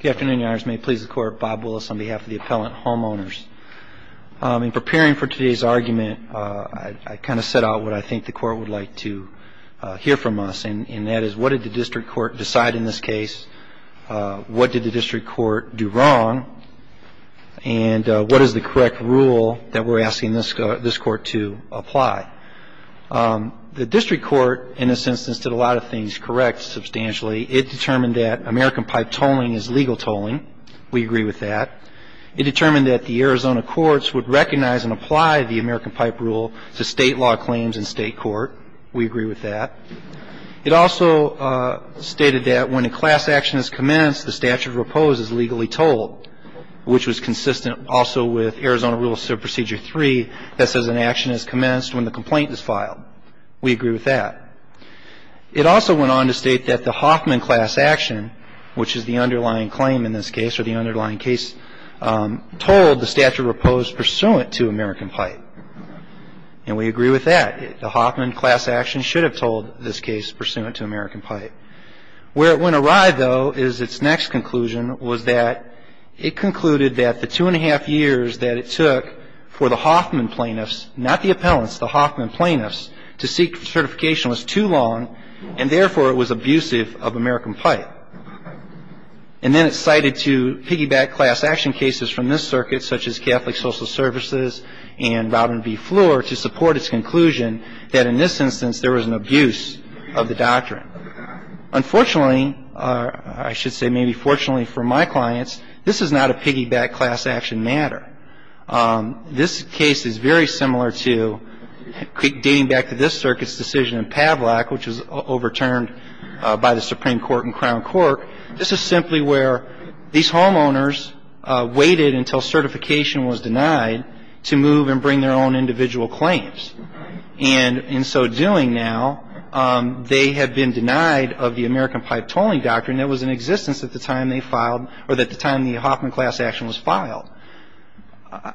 Good afternoon, Your Honors. May it please the Court, Bob Willis on behalf of the Appellant Homeowners. In preparing for today's argument, I kind of set out what I think the Court would like to hear from us. And that is, what did the District Court decide in this case? What did the District Court do wrong? And what is the correct rule that we're asking this Court to apply? The District Court, in this instance, did a lot of things correct, substantially. It determined that American pipe tolling is legal tolling. We agree with that. It determined that the Arizona courts would recognize and apply the American pipe rule to state law claims in state court. We agree with that. It also stated that when a class action is commenced, the statute of repose is legally tolled, which was consistent also with Arizona Rule Subprocedure 3 that says an action is commenced when the complaint is filed. We agree with that. It also went on to state that the Hoffman class action, which is the underlying claim in this case, or the underlying case, tolled the statute of repose pursuant to American pipe. And we agree with that. The Hoffman class action should have tolled this case pursuant to American pipe. Where it went awry, though, is its next conclusion, was that it concluded that the two and a half years that it took for the Hoffman plaintiffs, not the appellants, the Hoffman plaintiffs, to seek certification was too long, and therefore it was abusive of American pipe. And then it cited two piggyback class action cases from this circuit, such as Catholic Social Services and Robin v. Floor, to support its conclusion that in this instance there was an abuse of the doctrine. Unfortunately, I should say maybe fortunately for my clients, this is not a piggyback class action matter. This case is very similar to dating back to this circuit's decision in Pavlak, which was overturned by the Supreme Court in Crown Court. This is simply where these homeowners waited until certification was denied to move and bring their own individual claims. And in so doing now, they have been denied of the American pipe tolling doctrine that was in existence at the time they filed, or at the time the Hoffman class action was filed.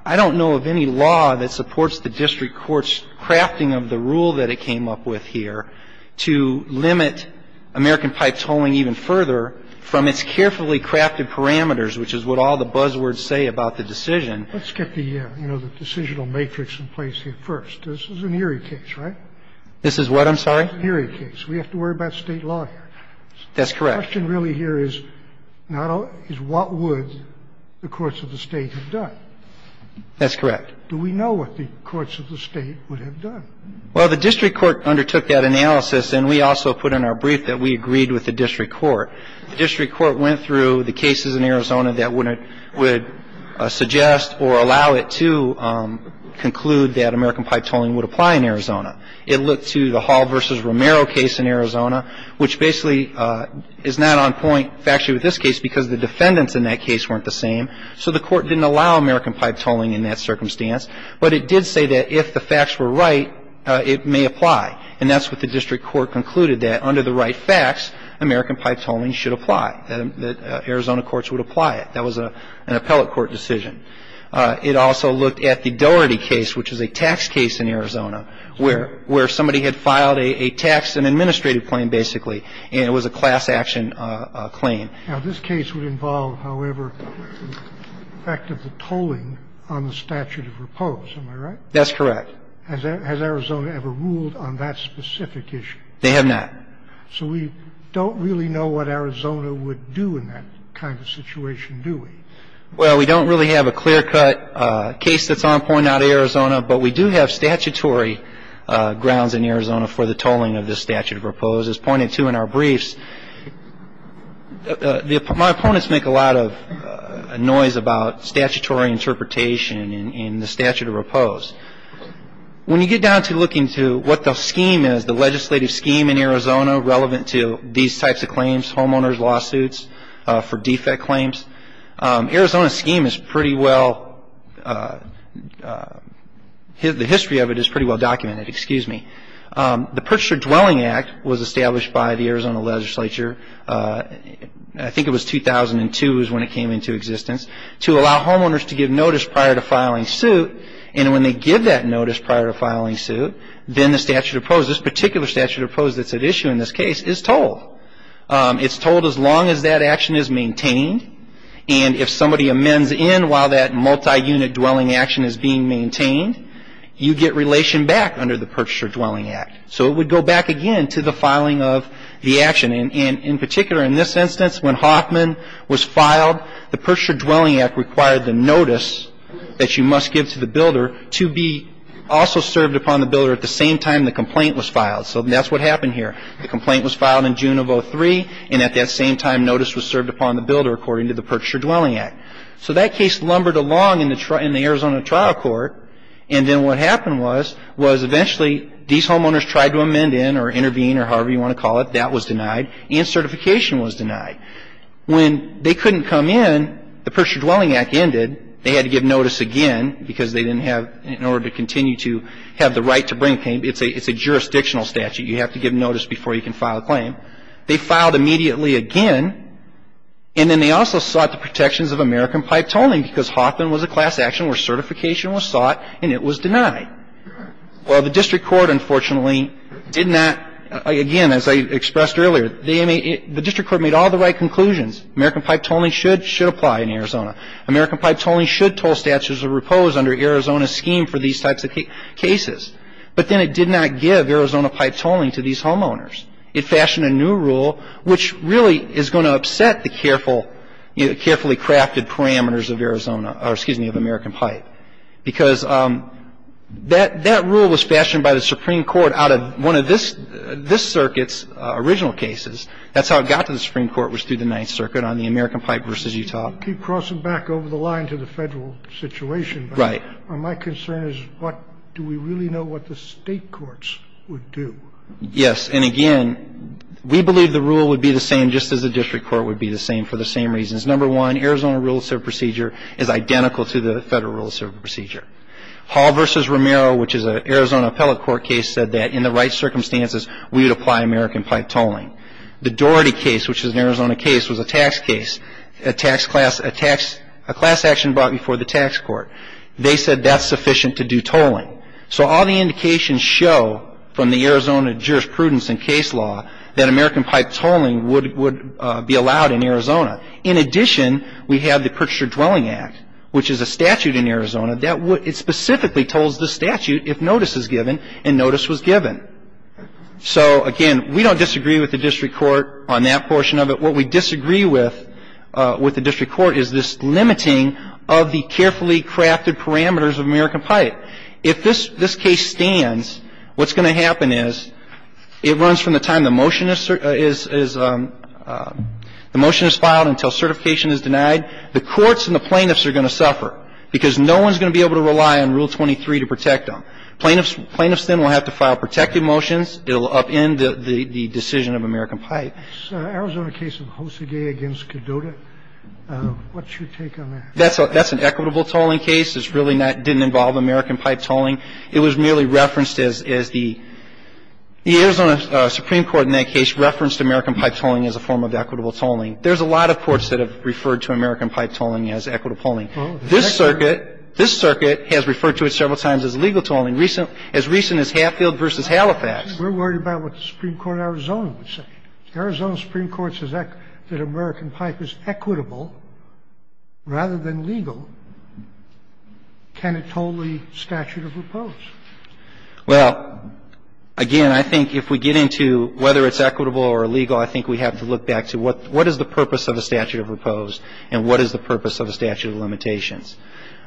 I don't know of any law that supports the district court's crafting of the rule that it came up with here to limit American pipe tolling even further from its carefully crafted parameters, which is what all the buzzwords say about the decision. Let's get the, you know, the decisional matrix in place here first. This is an Erie case, right? This is what? I'm sorry? An Erie case. We have to worry about State law here. That's correct. The question really here is what would the courts of the State have done? That's correct. Do we know what the courts of the State would have done? Well, the district court undertook that analysis, and we also put in our brief that we agreed with the district court. The district court went through the cases in Arizona that would suggest or allow it to conclude that American pipe tolling would apply in Arizona. It looked to the Hall v. Romero case in Arizona, which basically is not on point factually with this case because the defendants in that case weren't the same. So the court didn't allow American pipe tolling in that circumstance, but it did say that if the facts were right, it may apply. And that's what the district court concluded, that under the right facts, American pipe tolling should apply, that Arizona courts would apply it. That was an appellate court decision. It also looked at the Dougherty case, which is a tax case in Arizona, where somebody had filed a tax and administrative claim, basically, and it was a class action claim. Now, this case would involve, however, the fact of the tolling on the statute of repose. Am I right? That's correct. Has Arizona ever ruled on that specific issue? They have not. So we don't really know what Arizona would do in that kind of situation, do we? Well, we don't really have a clear-cut case that's on point out of Arizona, but we do have statutory grounds in Arizona for the tolling of this statute of repose. As pointed to in our briefs, my opponents make a lot of noise about statutory interpretation in the statute of repose. When you get down to looking to what the scheme is, the legislative scheme in Arizona, relevant to these types of claims, homeowners' lawsuits, for defect claims, Arizona's scheme is pretty well – the history of it is pretty well documented, excuse me. The Purchaser Dwelling Act was established by the Arizona legislature, I think it was 2002 is when it came into existence, to allow homeowners to give notice prior to filing suit, and when they give that notice prior to filing suit, then the statute of repose, this particular statute of repose that's at issue in this case, is tolled. It's tolled as long as that action is maintained, and if somebody amends in while that multi-unit dwelling action is being maintained, you get relation back under the Purchaser Dwelling Act. So it would go back again to the filing of the action. And in particular, in this instance, when Hoffman was filed, the Purchaser Dwelling Act required the notice that you must give to the builder to be also served upon the builder at the same time the complaint was filed. So that's what happened here. The complaint was filed in June of 2003, and at that same time notice was served upon the builder according to the Purchaser Dwelling Act. So that case lumbered along in the Arizona trial court, and then what happened was, was eventually these homeowners tried to amend in or intervene or however you want to call it, that was denied, and certification was denied. When they couldn't come in, the Purchaser Dwelling Act ended, they had to give notice again because they didn't have, in order to continue to have the right to bring, it's a jurisdictional statute. You have to give notice before you can file a claim. They filed immediately again, and then they also sought the protections of American Pipe Toning because Hoffman was a class action where certification was sought and it was denied. Well, the district court unfortunately did not, again, as I expressed earlier, the district court made all the right conclusions. American Pipe Toning should apply in Arizona. American Pipe Toning should toll statutes of repose under Arizona's scheme for these types of cases. But then it did not give Arizona Pipe Toning to these homeowners. It fashioned a new rule which really is going to upset the careful, carefully crafted parameters of Arizona, or excuse me, of American Pipe. Because that rule was fashioned by the Supreme Court out of one of this circuit's original cases. That's how it got to the Supreme Court was through the Ninth Circuit on the American Pipe v. Utah. It's a case that's been amended. I mean, you keep crossing back over the line to the federal situation. Right. But my concern is what do we really know what the State courts would do? Yes. And again, we believe the rule would be the same just as the district court would be the same for the same reasons. Number one, Arizona Rule of Civil Procedure is identical to the federal Rule of Civil Procedure. Hall v. Romero, which is an Arizona appellate court case, said that in the right circumstances we would apply American pipe tolling. The Doherty case, which is an Arizona case, was a tax case, a class action brought before the tax court. They said that's sufficient to do tolling. So all the indications show from the Arizona jurisprudence and case law that American pipe tolling would be allowed in Arizona. In addition, we have the Kirchner Dwelling Act, which is a statute in Arizona that specifically tolls the statute if notice is given and notice was given. So, again, we don't disagree with the district court on that portion of it. What we disagree with with the district court is this limiting of the carefully crafted parameters of American pipe. If this case stands, what's going to happen is it runs from the time the motion is filed until certification is denied. The courts and the plaintiffs are going to suffer because no one is going to be able to rely on Rule 23 to protect them. Plaintiffs then will have to file protective motions. It will upend the decision of American pipe. This Arizona case of Hosagay v. Cadota, what's your take on that? That's an equitable tolling case. It's really not — didn't involve American pipe tolling. It was merely referenced as the — the Arizona Supreme Court in that case referenced American pipe tolling as a form of equitable tolling. There's a lot of courts that have referred to American pipe tolling as equitable tolling. This circuit — this circuit has referred to it several times as legal tolling, as recent as Hatfield v. Halifax. We're worried about what the Supreme Court of Arizona would say. The Arizona Supreme Court says that American pipe is equitable rather than legal. Can it toll the statute of repose? Well, again, I think if we get into whether it's equitable or illegal, I think we have to look back to what is the purpose of a statute of repose and what is the purpose of a statute of limitations.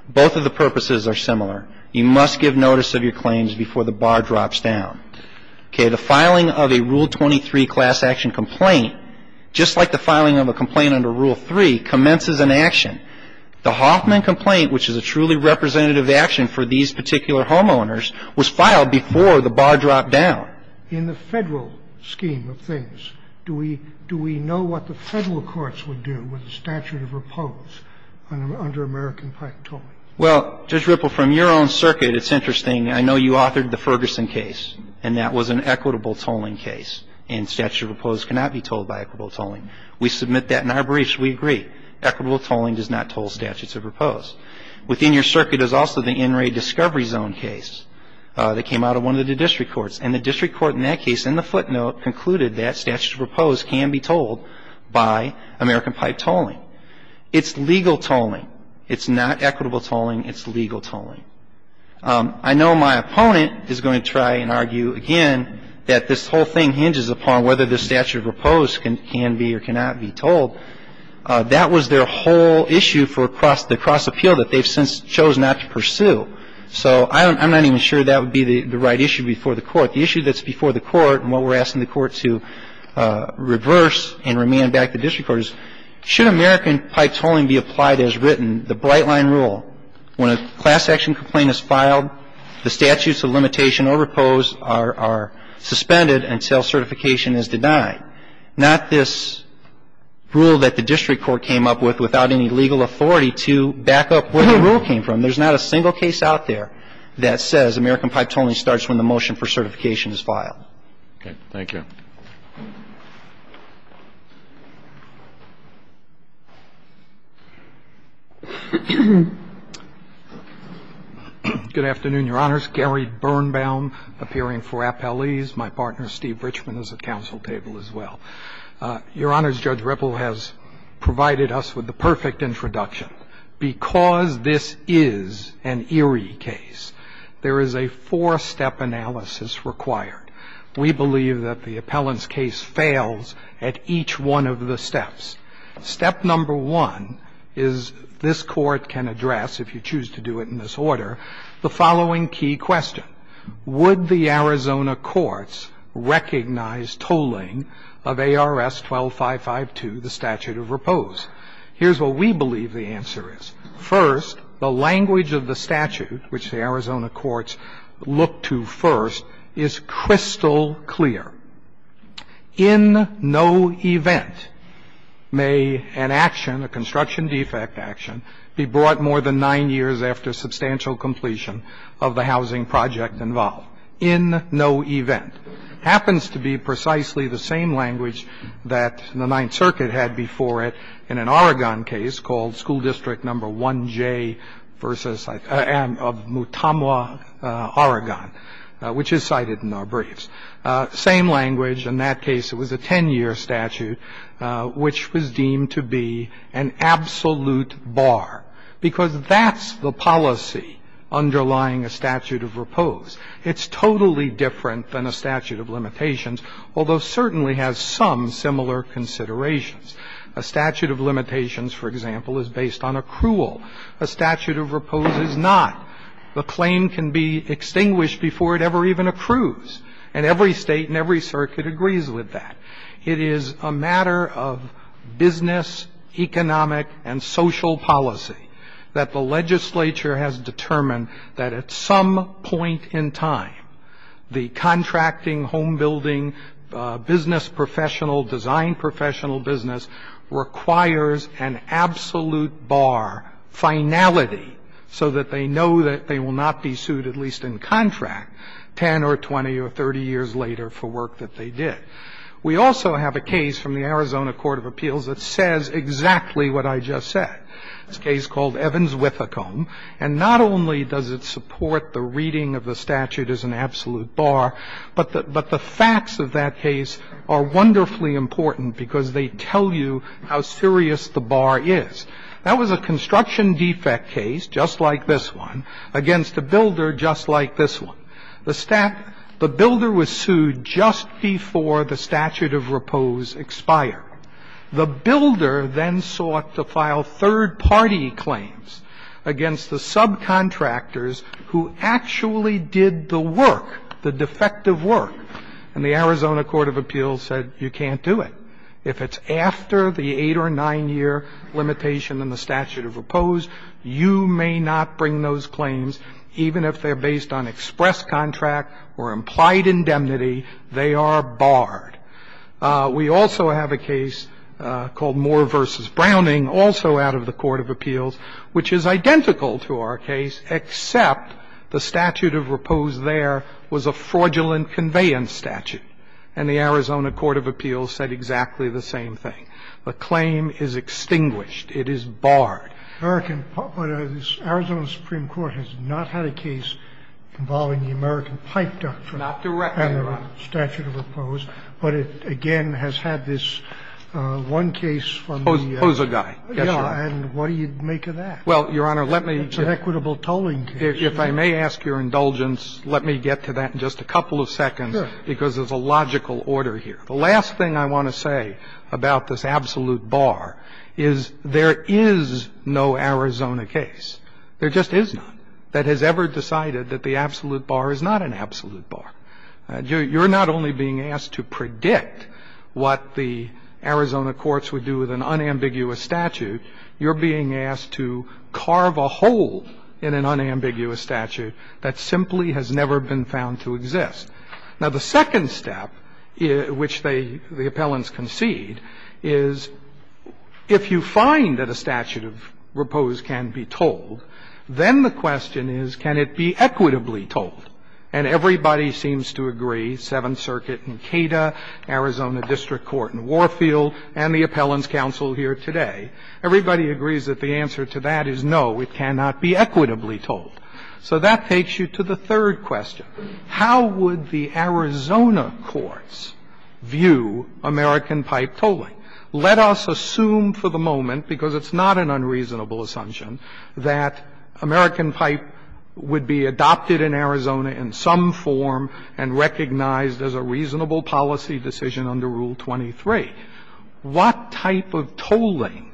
Both of the purposes are similar. You must give notice of your claims before the bar drops down. Okay. The filing of a Rule 23 class action complaint, just like the filing of a complaint under Rule 3, commences an action. The Hoffman complaint, which is a truly representative action for these particular homeowners, was filed before the bar dropped down. In the Federal scheme of things, do we — do we know what the Federal courts would do with a statute of repose under American pipe tolling? Well, Judge Ripple, from your own circuit, it's interesting. I know you authored the Ferguson case, and that was an equitable tolling case, and statute of repose cannot be tolled by equitable tolling. We submit that in our briefs. We agree. Equitable tolling does not toll statutes of repose. Within your circuit is also the NRA Discovery Zone case that came out of one of the district courts, and the district court in that case, in the footnote, concluded that statutes of repose can be tolled by American pipe tolling. It's legal tolling. It's not equitable tolling. It's legal tolling. I know my opponent is going to try and argue again that this whole thing hinges upon whether the statute of repose can be or cannot be tolled. That was their whole issue for the cross-appeal that they've since chosen not to pursue. So I'm not even sure that would be the right issue before the Court. The issue that's before the Court and what we're asking the Court to reverse and remand back to the district court is, should American pipe tolling be applied as written, the bright line rule, when a class action complaint is filed, the statutes of limitation or repose are suspended until certification is denied. Not this rule that the district court came up with without any legal authority to back up where the rule came from. There's not a single case out there that says American pipe tolling starts when the motion for certification is filed. Okay. Thank you. Good afternoon, Your Honors. Gary Birnbaum, appearing for appellees. My partner, Steve Richman, is at counsel table as well. Your Honors, Judge Ripple has provided us with the perfect introduction. Because this is an eerie case, there is a four-step analysis required. We believe that the appellant's case fails at each one of the steps. Step number one is this Court can address, if you choose to do it in this order, the following key question. Would the Arizona courts recognize tolling of ARS 12552, the statute of repose? Here's what we believe the answer is. First, the language of the statute, which the Arizona courts look to first, is crystal clear. In no event may an action, a construction defect action, be brought more than nine years after substantial completion of the housing project involved. In no event. It happens to be precisely the same language that the Ninth Circuit had before it in an Oregon case called school district number 1J versus of Mutamwa, Oregon, which is cited in our briefs. Same language. In that case, it was a 10-year statute, which was deemed to be an absolute bar, because that's the policy underlying a statute of repose. It's totally different than a statute of limitations, although certainly has some similar considerations. A statute of limitations, for example, is based on accrual. A statute of repose is not. The claim can be extinguished before it ever even accrues. And every State and every circuit agrees with that. It is a matter of business, economic, and social policy that the legislature has determined that at some point in time, the contracting, home building, business professional, design professional business requires an absolute bar, finality, so that they know that they will not be sued, at least in contract, 10 or 20 or 30 years later for work that they did. We also have a case from the Arizona Court of Appeals that says exactly what I just said. It's a case called Evans-Withecombe. And not only does it support the reading of the statute as an absolute bar, but the facts of that case are wonderfully important, because they tell you how serious the bar is. That was a construction defect case, just like this one, against a builder just like this one. The builder was sued just before the statute of repose expired. The builder then sought to file third-party claims against the subcontractors who actually did the work, the defective work. And the Arizona Court of Appeals said, you can't do it. If it's after the 8- or 9-year limitation in the statute of repose, you may not bring those claims, even if they're based on express contract or implied indemnity. They are barred. We also have a case called Moore v. Browning, also out of the Court of Appeals, which is identical to our case, except the statute of repose there was a fraudulent conveyance statute. And the Arizona Court of Appeals said exactly the same thing. The claim is extinguished. It is barred. The American – the Arizona Supreme Court has not had a case involving the American Pipe Doctrine. Not directly, Your Honor. And the statute of repose. But it, again, has had this one case from the – Pozo guy. Yes, Your Honor. And what do you make of that? Well, Your Honor, let me – It's an equitable tolling case. If I may ask your indulgence, let me get to that in just a couple of seconds. Sure. Because there's a logical order here. The last thing I want to say about this absolute bar is there is no Arizona case. There just is none that has ever decided that the absolute bar is not an absolute bar. You're not only being asked to predict what the Arizona courts would do with an unambiguous statute, you're being asked to carve a hole in an unambiguous statute that simply has never been found to exist. Now, the second step, which they, the appellants concede, is if you find that a statute of repose can be tolled, then the question is can it be equitably tolled? And everybody seems to agree, Seventh Circuit in Cato, Arizona District Court in Warfield, and the appellants' counsel here today, everybody agrees that the answer to that is no, it cannot be equitably tolled. So that takes you to the third question. How would the Arizona courts view American pipe tolling? Let us assume for the moment, because it's not an unreasonable assumption, that American pipe would be adopted in Arizona in some form and recognized as a reasonable policy decision under Rule 23. What type of tolling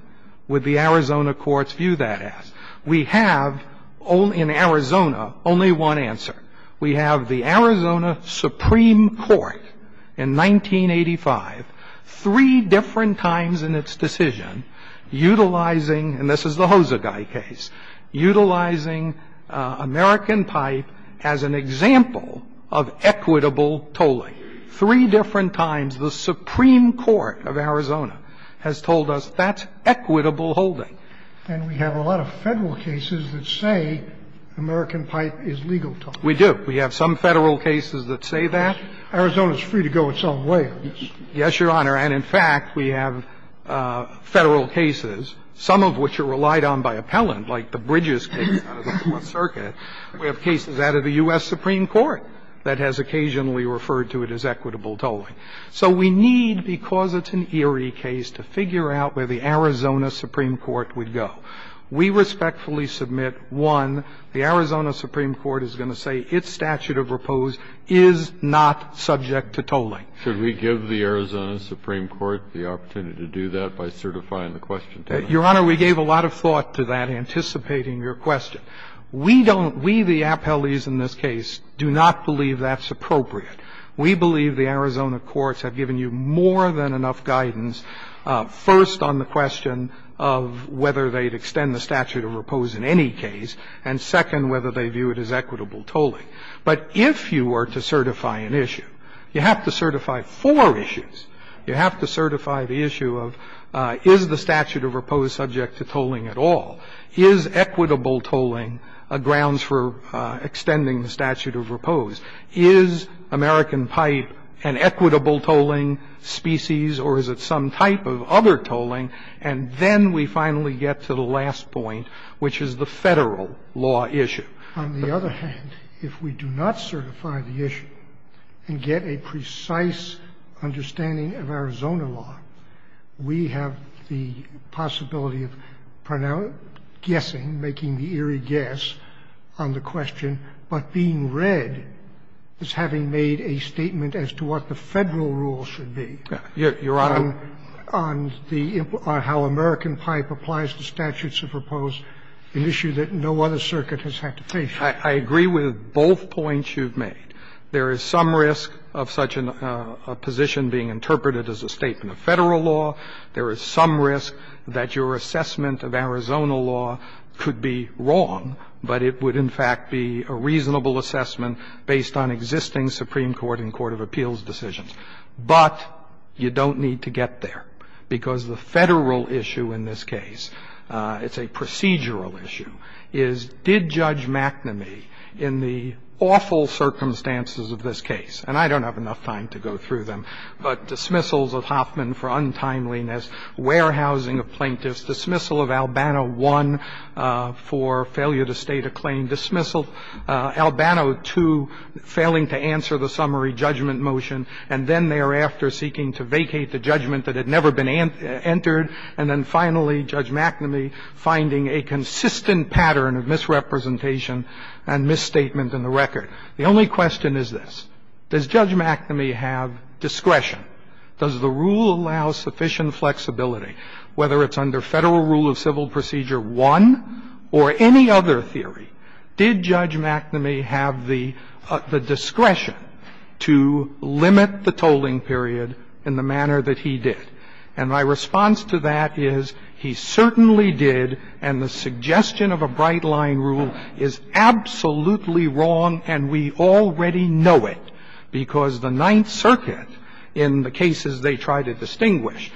would the Arizona courts view that as? We have in Arizona only one answer. We have the Arizona Supreme Court in 1985, three different times in its decision, utilizing, and this is the Hosegai case, utilizing American pipe as an example of equitable tolling, three different times the Supreme Court of Arizona has told us that's equitable holding. And we have a lot of Federal cases that say American pipe is legal tolling. We do. We have some Federal cases that say that. Arizona is free to go its own way. Yes, Your Honor. And in fact, we have Federal cases, some of which are relied on by appellant, like the Bridges case out of the Fourth Circuit. We have cases out of the U.S. Supreme Court that has occasionally referred to it as equitable tolling. So we need, because it's an eerie case, to figure out where the Arizona Supreme Court would go. We respectfully submit, one, the Arizona Supreme Court is going to say its statute of repose is not subject to tolling. Should we give the Arizona Supreme Court the opportunity to do that by certifying the question to them? Your Honor, we gave a lot of thought to that, anticipating your question. We don't we, the appellees in this case, do not believe that's appropriate. We believe the Arizona courts have given you more than enough guidance, first, on the question of whether they'd extend the statute of repose in any case, and second, whether they view it as equitable tolling. But if you were to certify an issue, you have to certify four issues. You have to certify the issue of is the statute of repose subject to tolling at all? Is equitable tolling a grounds for extending the statute of repose? Is American pipe an equitable tolling species, or is it some type of other tolling? And then we finally get to the last point, which is the Federal law issue. On the other hand, if we do not certify the issue and get a precise understanding of Arizona law, we have the possibility of guessing, making the eerie guess on the question, but being read as having made a statement as to what the Federal rule should be on the how American pipe applies to statutes of repose, an issue that no other circuit has had to face. I agree with both points you've made. There is some risk of such a position being interpreted as a statement of Federal law. There is some risk that your assessment of Arizona law could be wrong, but it would, in fact, be a reasonable assessment based on existing Supreme Court and court of appeals decisions. But you don't need to get there, because the Federal issue in this case, it's a procedural issue, is did Judge McNamee, in the awful circumstances of this case, and I don't have enough time to go through them, but dismissals of Hoffman for untimeliness, warehousing of plaintiffs, dismissal of Albano I for failure to state a claim, dismissal of Albano II, failing to answer the summary judgment motion, and then thereafter seeking to vacate the judgment that had never been entered, and then finally, Judge McNamee finding a consistent pattern of misrepresentation and misstatement in the record. The only question is this. Does Judge McNamee have discretion? Does the rule allow sufficient flexibility? Whether it's under Federal rule of civil procedure 1 or any other theory, did Judge McNamee have the discretion to limit the tolling period in the manner that he did? And my response to that is he certainly did, and the suggestion of a bright-line rule is absolutely wrong, and we already know it, because the Ninth Circuit, in the cases they try to distinguish,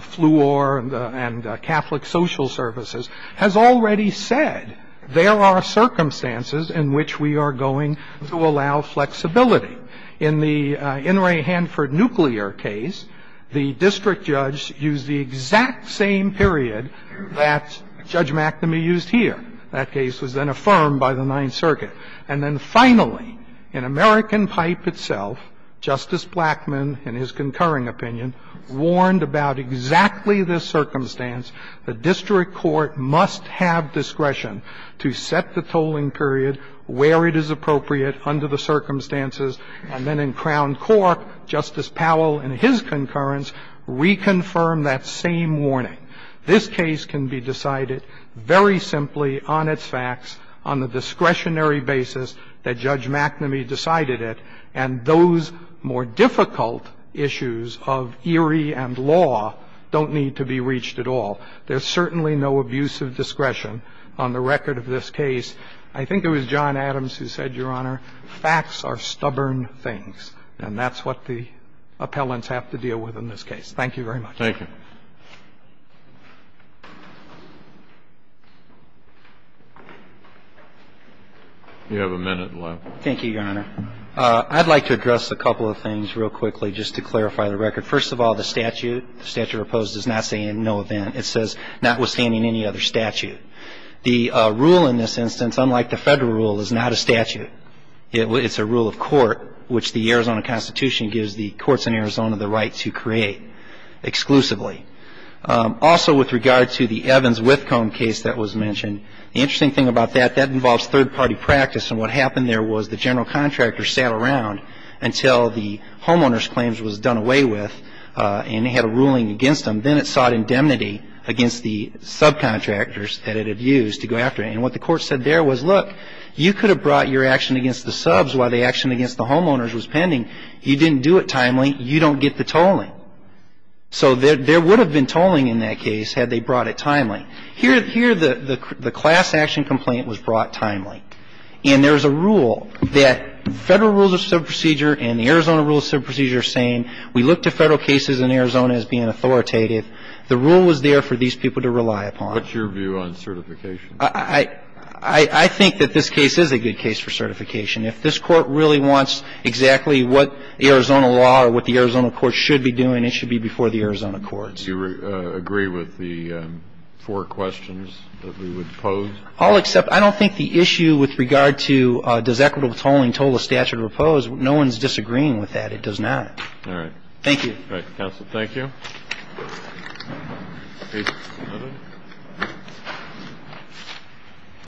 Fleur and Catholic Social Services, has already said there are circumstances in which we are going to allow flexibility. In the Inouye-Hanford nuclear case, the district judge used the exact same period that Judge McNamee used here. That case was then affirmed by the Ninth Circuit. And then finally, in American Pipe itself, Justice Blackmun, in his concurring opinion, warned about exactly this circumstance, the district court must have discretion to set the tolling period where it is appropriate under the circumstances, and then in Crown Court, Justice Powell, in his concurrence, reconfirmed that same warning. This case can be decided very simply on its facts, on the discretionary basis that In other words, the case is about the fact that in the case of the district court, those more difficult issues of eerie and law don't need to be reached at all. There's certainly no abuse of discretion on the record of this case. I think it was John Adams who said, Your Honor, facts are stubborn things, and that's what the appellants have to deal with in this case. Thank you very much. Thank you. You have a minute left. Thank you, Your Honor. I'd like to address a couple of things real quickly, just to clarify the record. First of all, the statute, the statute proposed, does not say in no event. It says notwithstanding any other statute. The rule in this instance, unlike the Federal rule, is not a statute. It's a rule of court, which the Arizona Constitution gives the courts in Arizona the right to create exclusively. Also, with regard to the Evans-Whitcomb case that was mentioned, the interesting thing about that, that involves third-party practice, and what happened there was the general contractor sat around until the homeowner's claims was done away with, and they had a ruling against them. Then it sought indemnity against the subcontractors that it had used to go after it. And what the court said there was, look, you could have brought your action against the subs while the action against the homeowners was pending. You didn't do it timely. You don't get the tolling. So there would have been tolling in that case had they brought it timely. Here, the class action complaint was brought timely. And there's a rule that Federal rules of subprocedure and the Arizona rules of subprocedure are the same. We look to Federal cases in Arizona as being authoritative. The rule was there for these people to rely upon. What's your view on certification? I think that this case is a good case for certification. If this court really wants exactly what the Arizona law or what the Arizona court should be doing, it should be before the Arizona courts. Do you agree with the four questions that we would pose? I'll accept. I don't think the issue with regard to does equitable tolling toll a statute or oppose, no one's disagreeing with that. It does not. All right. Thank you. All right. Counsel, thank you.